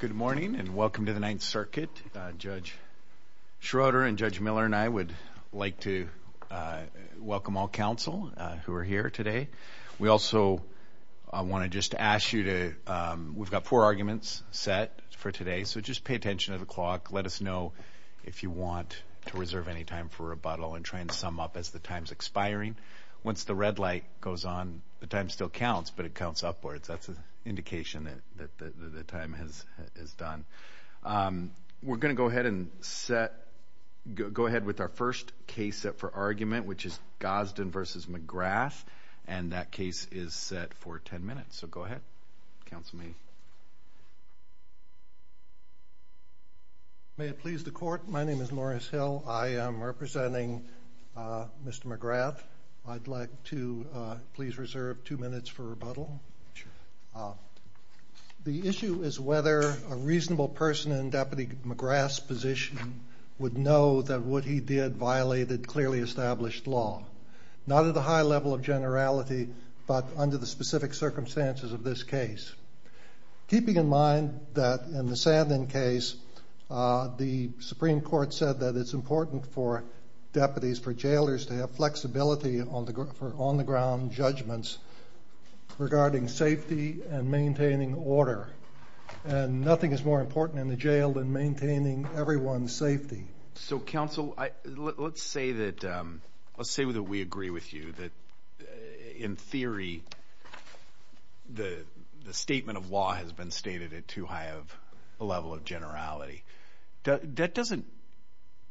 Good morning and welcome to the Ninth Circuit. Judge Schroeder and Judge Miller and I would like to welcome all counsel who are here today. We also want to just ask you to, we've got four arguments set for today, so just pay attention to the clock, let us know if you want to reserve any time for rebuttal and try and sum up as the time's expiring. Once the red light goes on, the time still counts, but it counts upwards, that's an indication that the time is done. We're going to go ahead and set, go ahead with our first case set for argument, which is Gadsden v. McGrath, and that case is set for ten minutes, so go ahead, counsel may. May it please the court, my name is Morris Hill, I am representing Mr. McGrath, I'd like to please reserve two minutes for rebuttal. The issue is whether a reasonable person in Deputy McGrath's position would know that what he did violated clearly established law, not at a high level of generality, but under the specific circumstances of this case. Keeping in mind that in the Sandman case, the Supreme Court said that it's important for deputies, for jailers to have flexibility on the ground judgments regarding safety and maintaining order, and nothing is more important in the jail than maintaining everyone's safety. So, counsel, let's say that we agree with you, that in theory, the statement of law has been stated at too high of a level of generality. That doesn't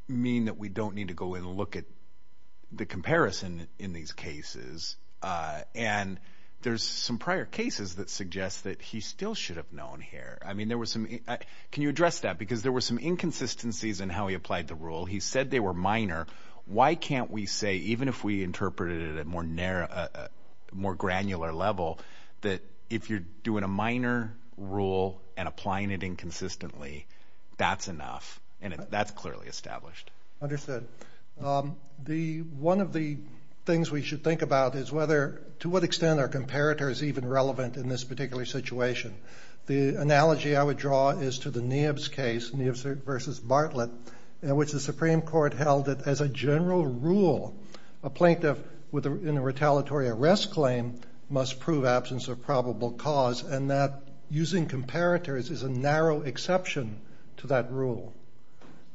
mean that we don't need to go and look at the comparison in these cases, and there's some prior cases that suggest that he still should have known here. I mean, there was some, can you address that? Because there were some inconsistencies in how he applied the rule. He said they were minor. Why can't we say, even if we interpreted it at a more granular level, that if you're doing a minor rule and applying it inconsistently, that's enough, and that's clearly established. Understood. One of the things we should think about is whether, to what extent are comparators even relevant in this particular situation. The analogy I would draw is to the Neibs case, Neibs v. Bartlett, in which the Supreme Court held that as a general rule, a plaintiff in a retaliatory arrest claim must prove absence of probable cause, and that using comparators is a narrow exception to that rule.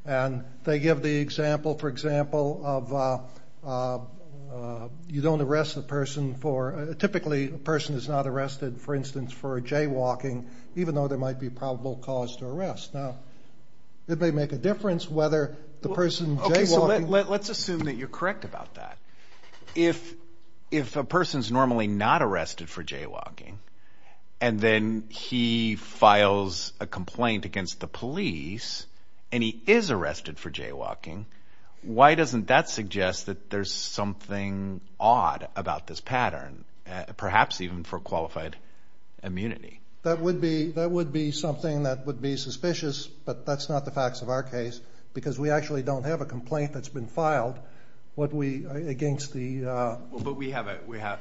And they give the example, for example, of you don't arrest the person for, typically a person is not arrested, for instance, for jaywalking, even though there might be probable cause to arrest. Now, it may make a difference whether the person jaywalking. Let's assume that you're correct about that. If a person's normally not arrested for jaywalking, and then he files a complaint against the police, and he is arrested for jaywalking, why doesn't that suggest that there's something odd about this pattern, perhaps even for qualified immunity? That would be something that would be suspicious, but that's not the facts of our case, because we actually don't have a complaint that's been filed against the... But we have a...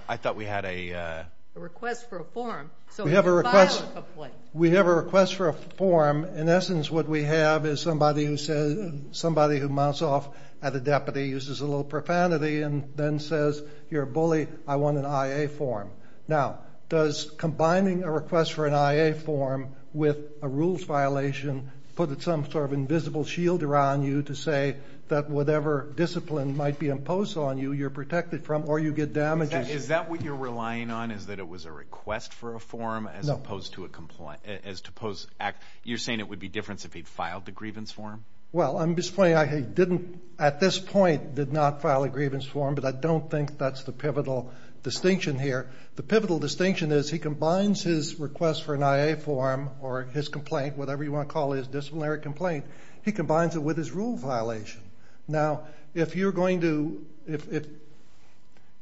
I thought we had a... A request for a form, so we can file a complaint. We have a request for a form. In essence, what we have is somebody who mounts off at a deputy, uses a little profanity, and then says, you're a bully, I want an I.A. form. Now, does combining a request for an I.A. form with a rules violation put some sort of principle shielder on you to say that whatever discipline might be imposed on you, you're protected from, or you get damages? Is that what you're relying on, is that it was a request for a form as opposed to a complaint, as opposed to... You're saying it would be different if he'd filed a grievance form? Well, I'm just pointing out he didn't, at this point, did not file a grievance form, but I don't think that's the pivotal distinction here. The pivotal distinction is he combines his request for an I.A. form, or his complaint, whatever you want to call it, his disciplinary complaint, he combines it with his rule violation. Now, if you're going to...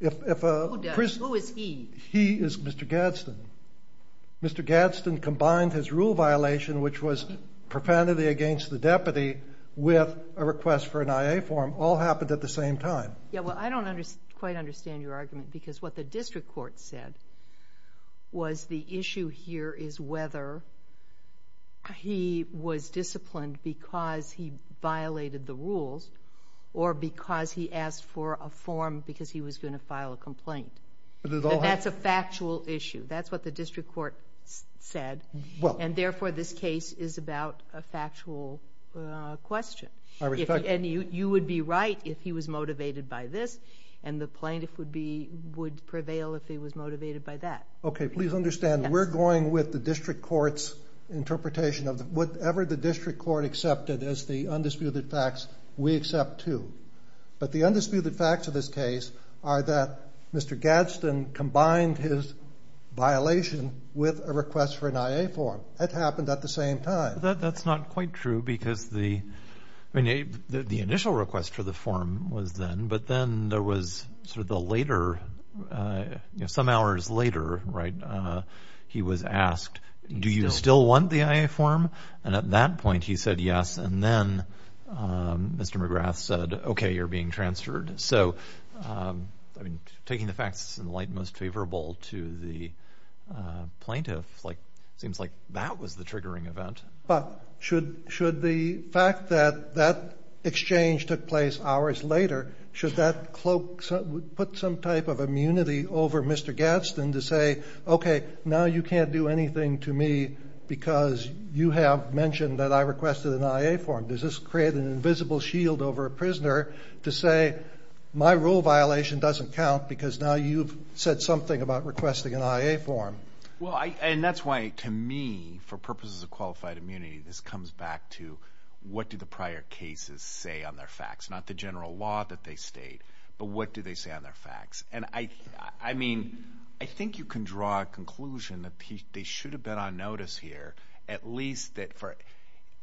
Who does? Who is he? He is Mr. Gadsden. Mr. Gadsden combined his rule violation, which was profanity against the deputy, with a request for an I.A. form. All happened at the same time. Yeah, well, I don't quite understand your argument, because what the district court said was the issue here is whether he was disciplined because he violated the rules, or because he asked for a form because he was going to file a complaint. That's a factual issue. That's what the district court said, and therefore, this case is about a factual question. You would be right if he was motivated by this, and the plaintiff would prevail if he was motivated by that. Please understand, we're going with the district court's interpretation of whatever the district court accepted as the undisputed facts, we accept, too. But the undisputed facts of this case are that Mr. Gadsden combined his violation with a request for an I.A. form. That happened at the same time. That's not quite true, because the initial request for the form was then, but then there was sort of the later, you know, some hours later, right, he was asked, do you still want the I.A. form? And at that point, he said yes, and then Mr. McGrath said, okay, you're being transferred. So I mean, taking the facts in light most favorable to the plaintiff, like, seems like that was the triggering event. But should the fact that that exchange took place hours later, should that put some type of immunity over Mr. Gadsden to say, okay, now you can't do anything to me because you have mentioned that I requested an I.A. form? Does this create an invisible shield over a prisoner to say, my rule violation doesn't count because now you've said something about requesting an I.A. form? Well, and that's why, to me, for purposes of qualified immunity, this comes back to what did the prior cases say on their facts? Not the general law that they state, but what do they say on their facts? And I mean, I think you can draw a conclusion that they should have been on notice here, at least that for,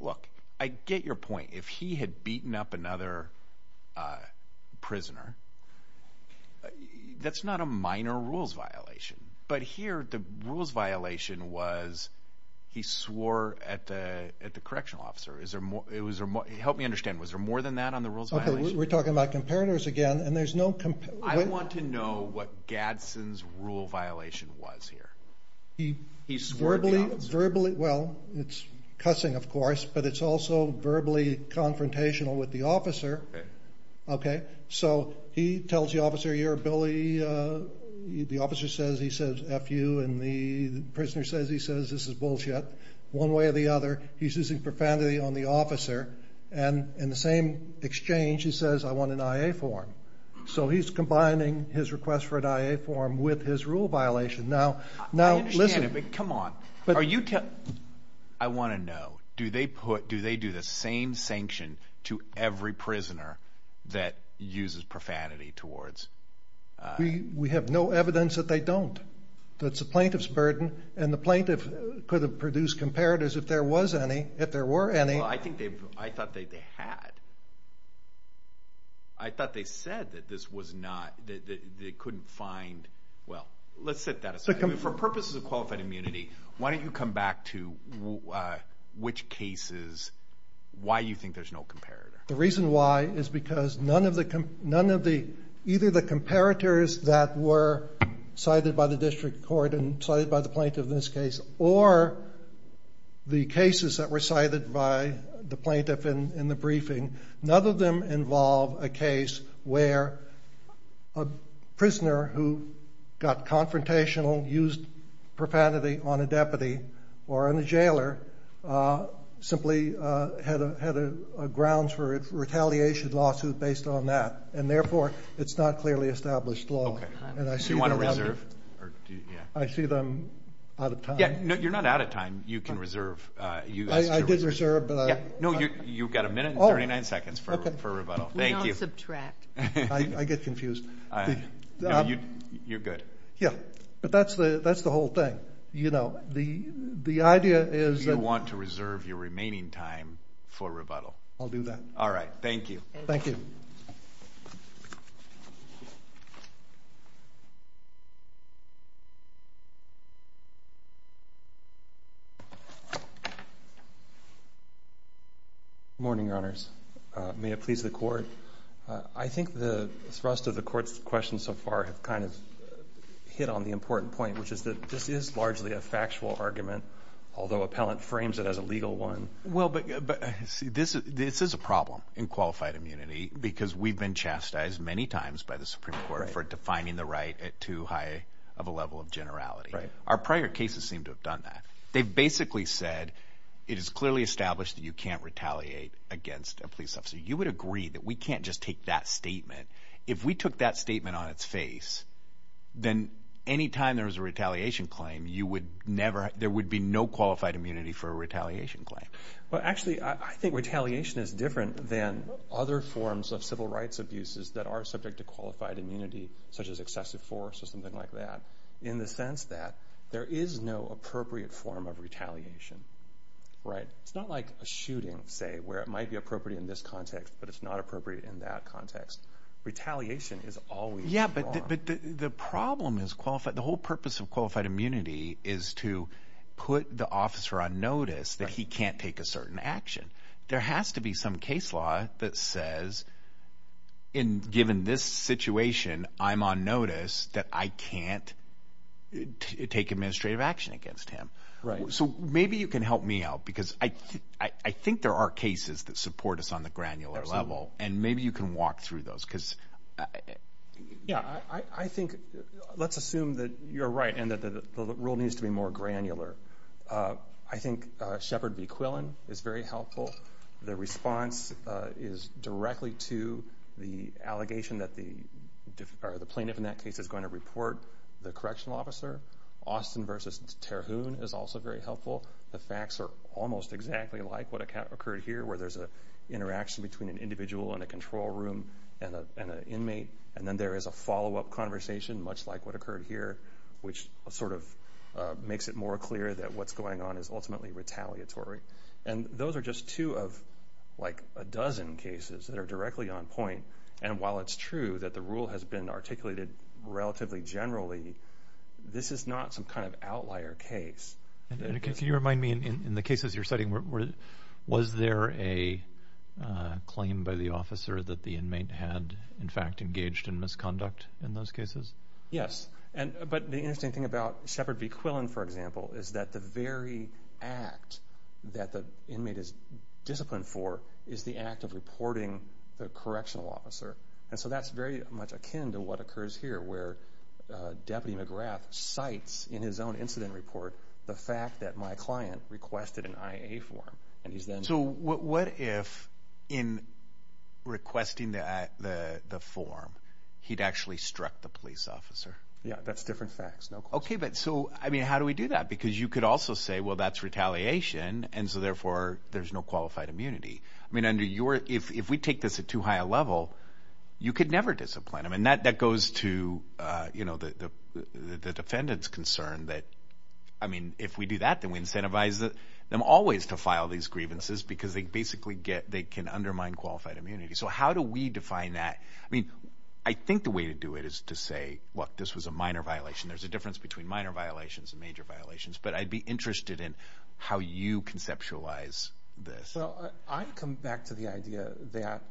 look, I get your point. If he had beaten up another prisoner, that's not a minor rules violation. But here, the rules violation was he swore at the correctional officer. Is there more? Help me understand. Was there more than that on the rules violation? Okay, we're talking about comparators again, and there's no comparator. I want to know what Gadsden's rule violation was here. He swore at the officer. Verbally, well, it's cussing, of course, but it's also verbally confrontational with the Okay. So he tells the officer, your ability, the officer says, he says, F you, and the prisoner says, he says, this is bullshit. One way or the other, he's using profanity on the officer. And in the same exchange, he says, I want an IA form. So he's combining his request for an IA form with his rule violation. Now, listen. I understand it, but come on. Are you telling, I want to know, do they put, do they do the same sanction to every prisoner that uses profanity towards? We have no evidence that they don't. That's the plaintiff's burden, and the plaintiff could have produced comparators if there was any, if there were any. Well, I think they've, I thought they had. I thought they said that this was not, that they couldn't find, well, let's set that aside. For purposes of qualified immunity, why don't you come back to which cases, why you think there's no comparator? The reason why is because none of the, none of the, either the comparators that were cited by the district court and cited by the plaintiff in this case, or the cases that were cited by the plaintiff in the briefing, none of them involve a case where a prisoner who got confrontational, used profanity on a deputy, or on a jailer, simply had a grounds for retaliation lawsuit based on that, and therefore, it's not clearly established law. Okay. Do you want to reserve? Yeah. I see them out of time. Yeah. No, you're not out of time. You can reserve. I did reserve. Yeah. No, you've got a minute and 39 seconds for rebuttal. Thank you. We don't subtract. I get confused. No, you're good. Yeah. But that's the, that's the whole thing. You know, the, the idea is that- Do you want to reserve your remaining time for rebuttal? I'll do that. All right. Thank you. Thank you. Good morning, Your Honors. May it please the court. I think the thrust of the court's questions so far have kind of hit on the important point, which is that this is largely a factual argument, although appellant frames it as a legal one. Well, but, but see, this is, this is a problem in qualified immunity, because we've been chastised many times by the Supreme Court for defining the right at too high of a level of generality. Our prior cases seem to have done that. They've basically said, it is clearly established that you can't retaliate against a police officer. You would agree that we can't just take that statement. If we took that statement on its face, then any time there was a retaliation claim, you would never, there would be no qualified immunity for a retaliation claim. Well, actually, I think retaliation is different than other forms of civil rights abuses that are subject to qualified immunity, such as excessive force or something like that, in the sense that there is no appropriate form of retaliation, right? It's not like a shooting, say, where it might be appropriate in this context, but it's not appropriate in that context. Retaliation is always wrong. Yeah, but the problem is qualified. The whole purpose of qualified immunity is to put the officer on notice that he can't take a certain action. There has to be some case law that says, in given this situation, I'm on notice that I can't take administrative action against him. Right. So, maybe you can help me out, because I think there are cases that support us on the granular level, and maybe you can walk through those, because... Yeah, I think, let's assume that you're right and that the rule needs to be more granular. I think Shepard v. Quillen is very helpful. The response is directly to the allegation that the plaintiff in that case is going to report the correctional officer. Austin v. Terhune is also very helpful. The facts are almost exactly like what occurred here, where there's an interaction between an individual and a control room and an inmate, and then there is a follow-up conversation, much like what occurred here, which sort of makes it more clear that what's going on is ultimately retaliatory. And those are just two of a dozen cases that are directly on point, and while it's true that the rule has been articulated relatively generally, this is not some kind of outlier case. Can you remind me, in the cases you're citing, was there a claim by the officer that the inmate had, in fact, engaged in misconduct in those cases? Yes. But the interesting thing about Shepard v. Quillen, for example, is that the very act that the inmate is disciplined for is the act of reporting the correctional officer. And so that's very much akin to what occurs here, where Deputy McGrath cites, in his own incident report, the fact that my client requested an IA form, and he's then... So what if, in requesting the form, he'd actually struck the police officer? Yeah, that's different facts, no question. Okay, but so, I mean, how do we do that? Because you could also say, well, that's retaliation, and so therefore there's no qualified immunity. I mean, if we take this at too high a level, you could never discipline him. And that goes to the defendant's concern that, I mean, if we do that, then we incentivize them always to file these grievances, because they basically get, they can undermine qualified immunity. So how do we define that? I mean, I think the way to do it is to say, look, this was a minor violation. There's a difference between minor violations and major violations, but I'd be interested in how you conceptualize this. Well, I come back to the idea that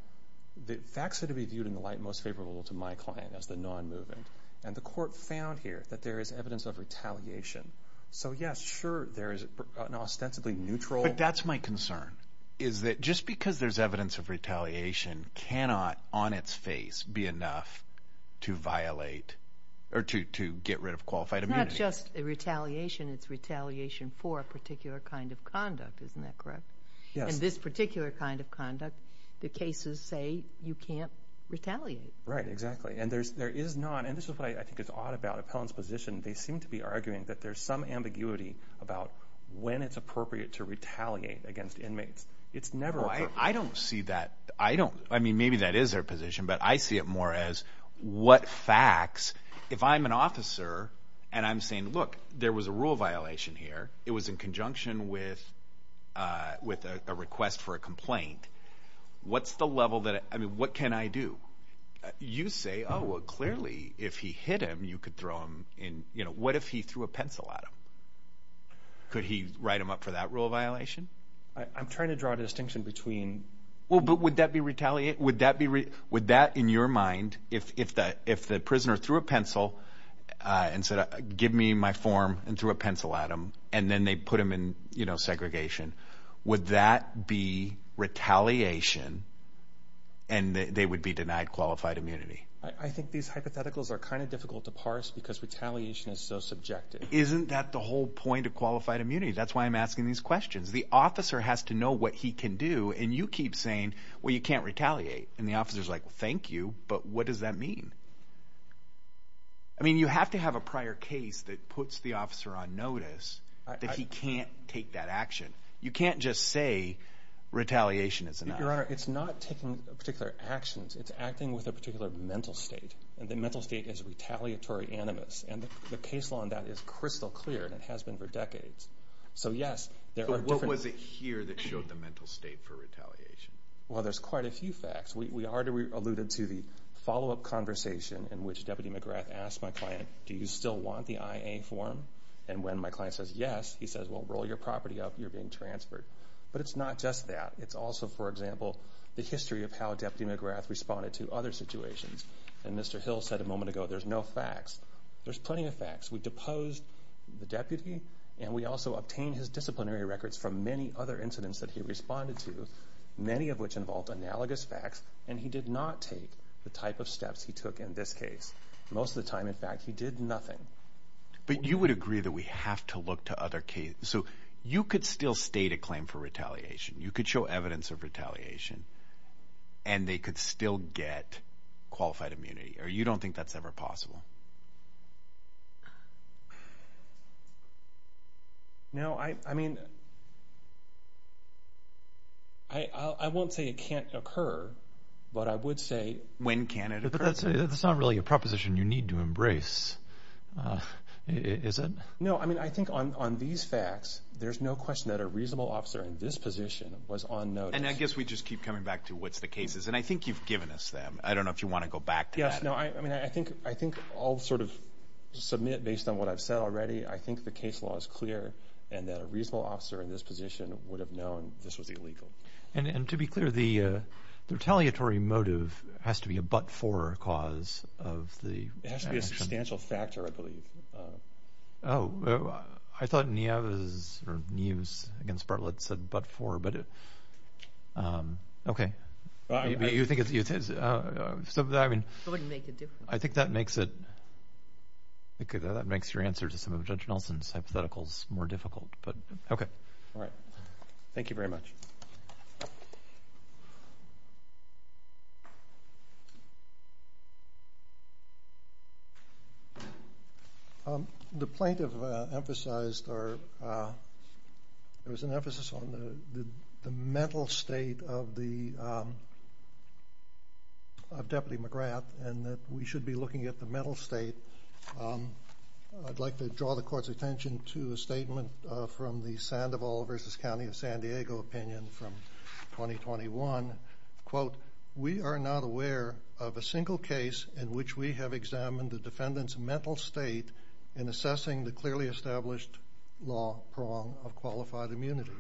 the facts are to be viewed in the light most favorable to my client, as the non-moving, and the court found here that there is evidence of retaliation. So yes, sure, there is an ostensibly neutral... But that's my concern, is that just because there's evidence of retaliation cannot, on its face, be enough to violate, or to get rid of qualified immunity. It's not just retaliation, it's retaliation for a particular kind of conduct, isn't that correct? Yes. In this particular kind of conduct, the cases say you can't retaliate. Right, exactly. And there is not, and this is what I think is odd about Appellant's position, they seem to be arguing that there's some ambiguity about when it's appropriate to retaliate against inmates. It's never appropriate. Well, I don't see that. I don't, I mean, maybe that is their position, but I see it more as what facts, if I'm an officer, and I'm saying, look, there was a rule violation here. It was in conjunction with a request for a complaint. What's the level that, I mean, what can I do? You say, oh, well, clearly, if he hit him, you could throw him in, you know, what if he threw a pencil at him? Could he write him up for that rule of violation? I'm trying to draw a distinction between... Well, but would that be retaliate, would that be, would that, in your mind, if the prisoner threw a pencil and said, give me my form, and threw a pencil at him, and then they put him in, you know, segregation, would that be retaliation, and they would be denied qualified immunity? I think these hypotheticals are kind of difficult to parse because retaliation is so subjective. Isn't that the whole point of qualified immunity? That's why I'm asking these questions. The officer has to know what he can do, and you keep saying, well, you can't retaliate, and the officer's like, well, thank you, but what does that mean? I mean, you have to have a prior case that puts the officer on notice that he can't take that action. You can't just say retaliation is enough. Your Honor, it's not taking particular actions. It's acting with a particular mental state, and the mental state is retaliatory animus, and the case law on that is crystal clear, and it has been for decades. So yes, there are different... So what was it here that showed the mental state for retaliation? Well, there's quite a few facts. We already alluded to the follow-up conversation in which Deputy McGrath asked my client, do you still want the IA form? And when my client says yes, he says, well, roll your property up, you're being transferred. But it's not just that. It's also, for example, the history of how Deputy McGrath responded to other situations. And Mr. Hill said a moment ago, there's no facts. There's plenty of facts. We deposed the deputy, and we also obtained his disciplinary records from many other incidents that he responded to, many of which involved analogous facts, and he did not take the type of steps he took in this case. Most of the time, in fact, he did nothing. But you would agree that we have to look to other cases. So you could still state a claim for retaliation. You could show evidence of retaliation, and they could still get qualified immunity, or you don't think that's ever possible? No, I mean, I won't say it can't occur, but I would say... When can it occur? But that's not really a proposition you need to embrace, is it? No, I mean, I think on these facts, there's no question that a reasonable officer in this position was on notice. And I guess we just keep coming back to what's the cases. And I think you've given us them. I don't know if you want to go back to this. No, I mean, I think I'll sort of submit based on what I've said already. I think the case law is clear, and that a reasonable officer in this position would have known this was illegal. And to be clear, the retaliatory motive has to be a but-for cause of the action. It has to be a substantial factor, I believe. Oh, I thought Niav's, or Niav's against Bartlett said but-for, but... Okay. You think it's... I mean... It wouldn't make a difference. I think that makes it... I think that makes your answer to some of Judge Nelson's hypotheticals more difficult, but... All right. Thank you very much. The plaintiff emphasized, or there was an emphasis on the mental state of Deputy McGrath, and that we should be looking at the mental state. I'd like to draw the court's attention to a statement from the Sandoval v. County of San Diego opinion from 2021, quote, we are not aware of a single case in which we have examined the defendant's mental state in assessing the clearly established law prong of qualified immunity.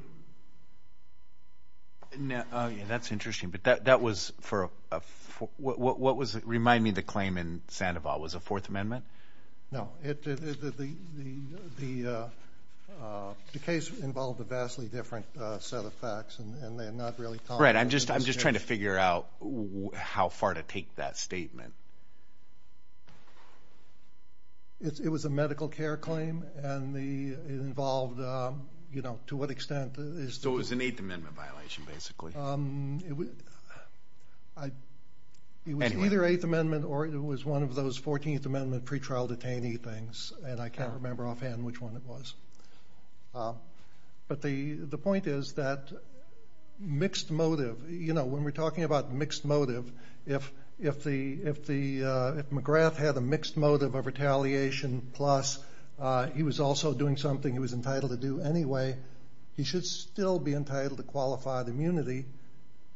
Now, that's interesting, but that was for a... What was... Remind me the claim in Sandoval. It was a Fourth Amendment? No. It... The case involved a vastly different set of facts, and they're not really... Right. I'm just trying to figure out how far to take that statement. It was a medical care claim, and it involved, you know, to what extent is... So it was an Eighth Amendment violation, basically. It was either Eighth Amendment or it was one of those Fourteenth Amendment pretrial detainee things, and I can't remember offhand which one it was. But the point is that mixed motive, you know, when we're talking about mixed motive, if McGrath had a mixed motive of retaliation, plus he was also doing something he was entitled to do anyway, he should still be entitled to qualified immunity,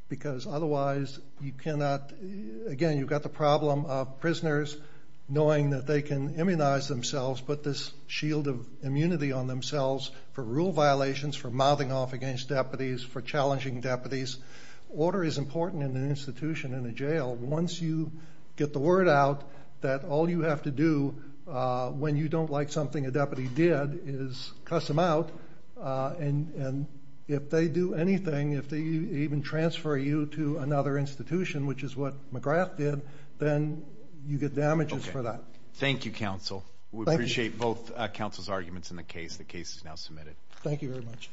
because otherwise, you cannot... Again, you've got the problem of prisoners knowing that they can immunize themselves, put this shield of immunity on themselves for rule violations, for mouthing off against deputies, for challenging deputies. Order is important in an institution, in a jail. Once you get the word out that all you have to do when you don't like something a deputy did is cuss them out, and if they do anything, if they even transfer you to another institution, which is what McGrath did, then you get damages for that. Thank you, counsel. Thank you. We appreciate both counsel's arguments in the case. The case is now submitted. Thank you very much.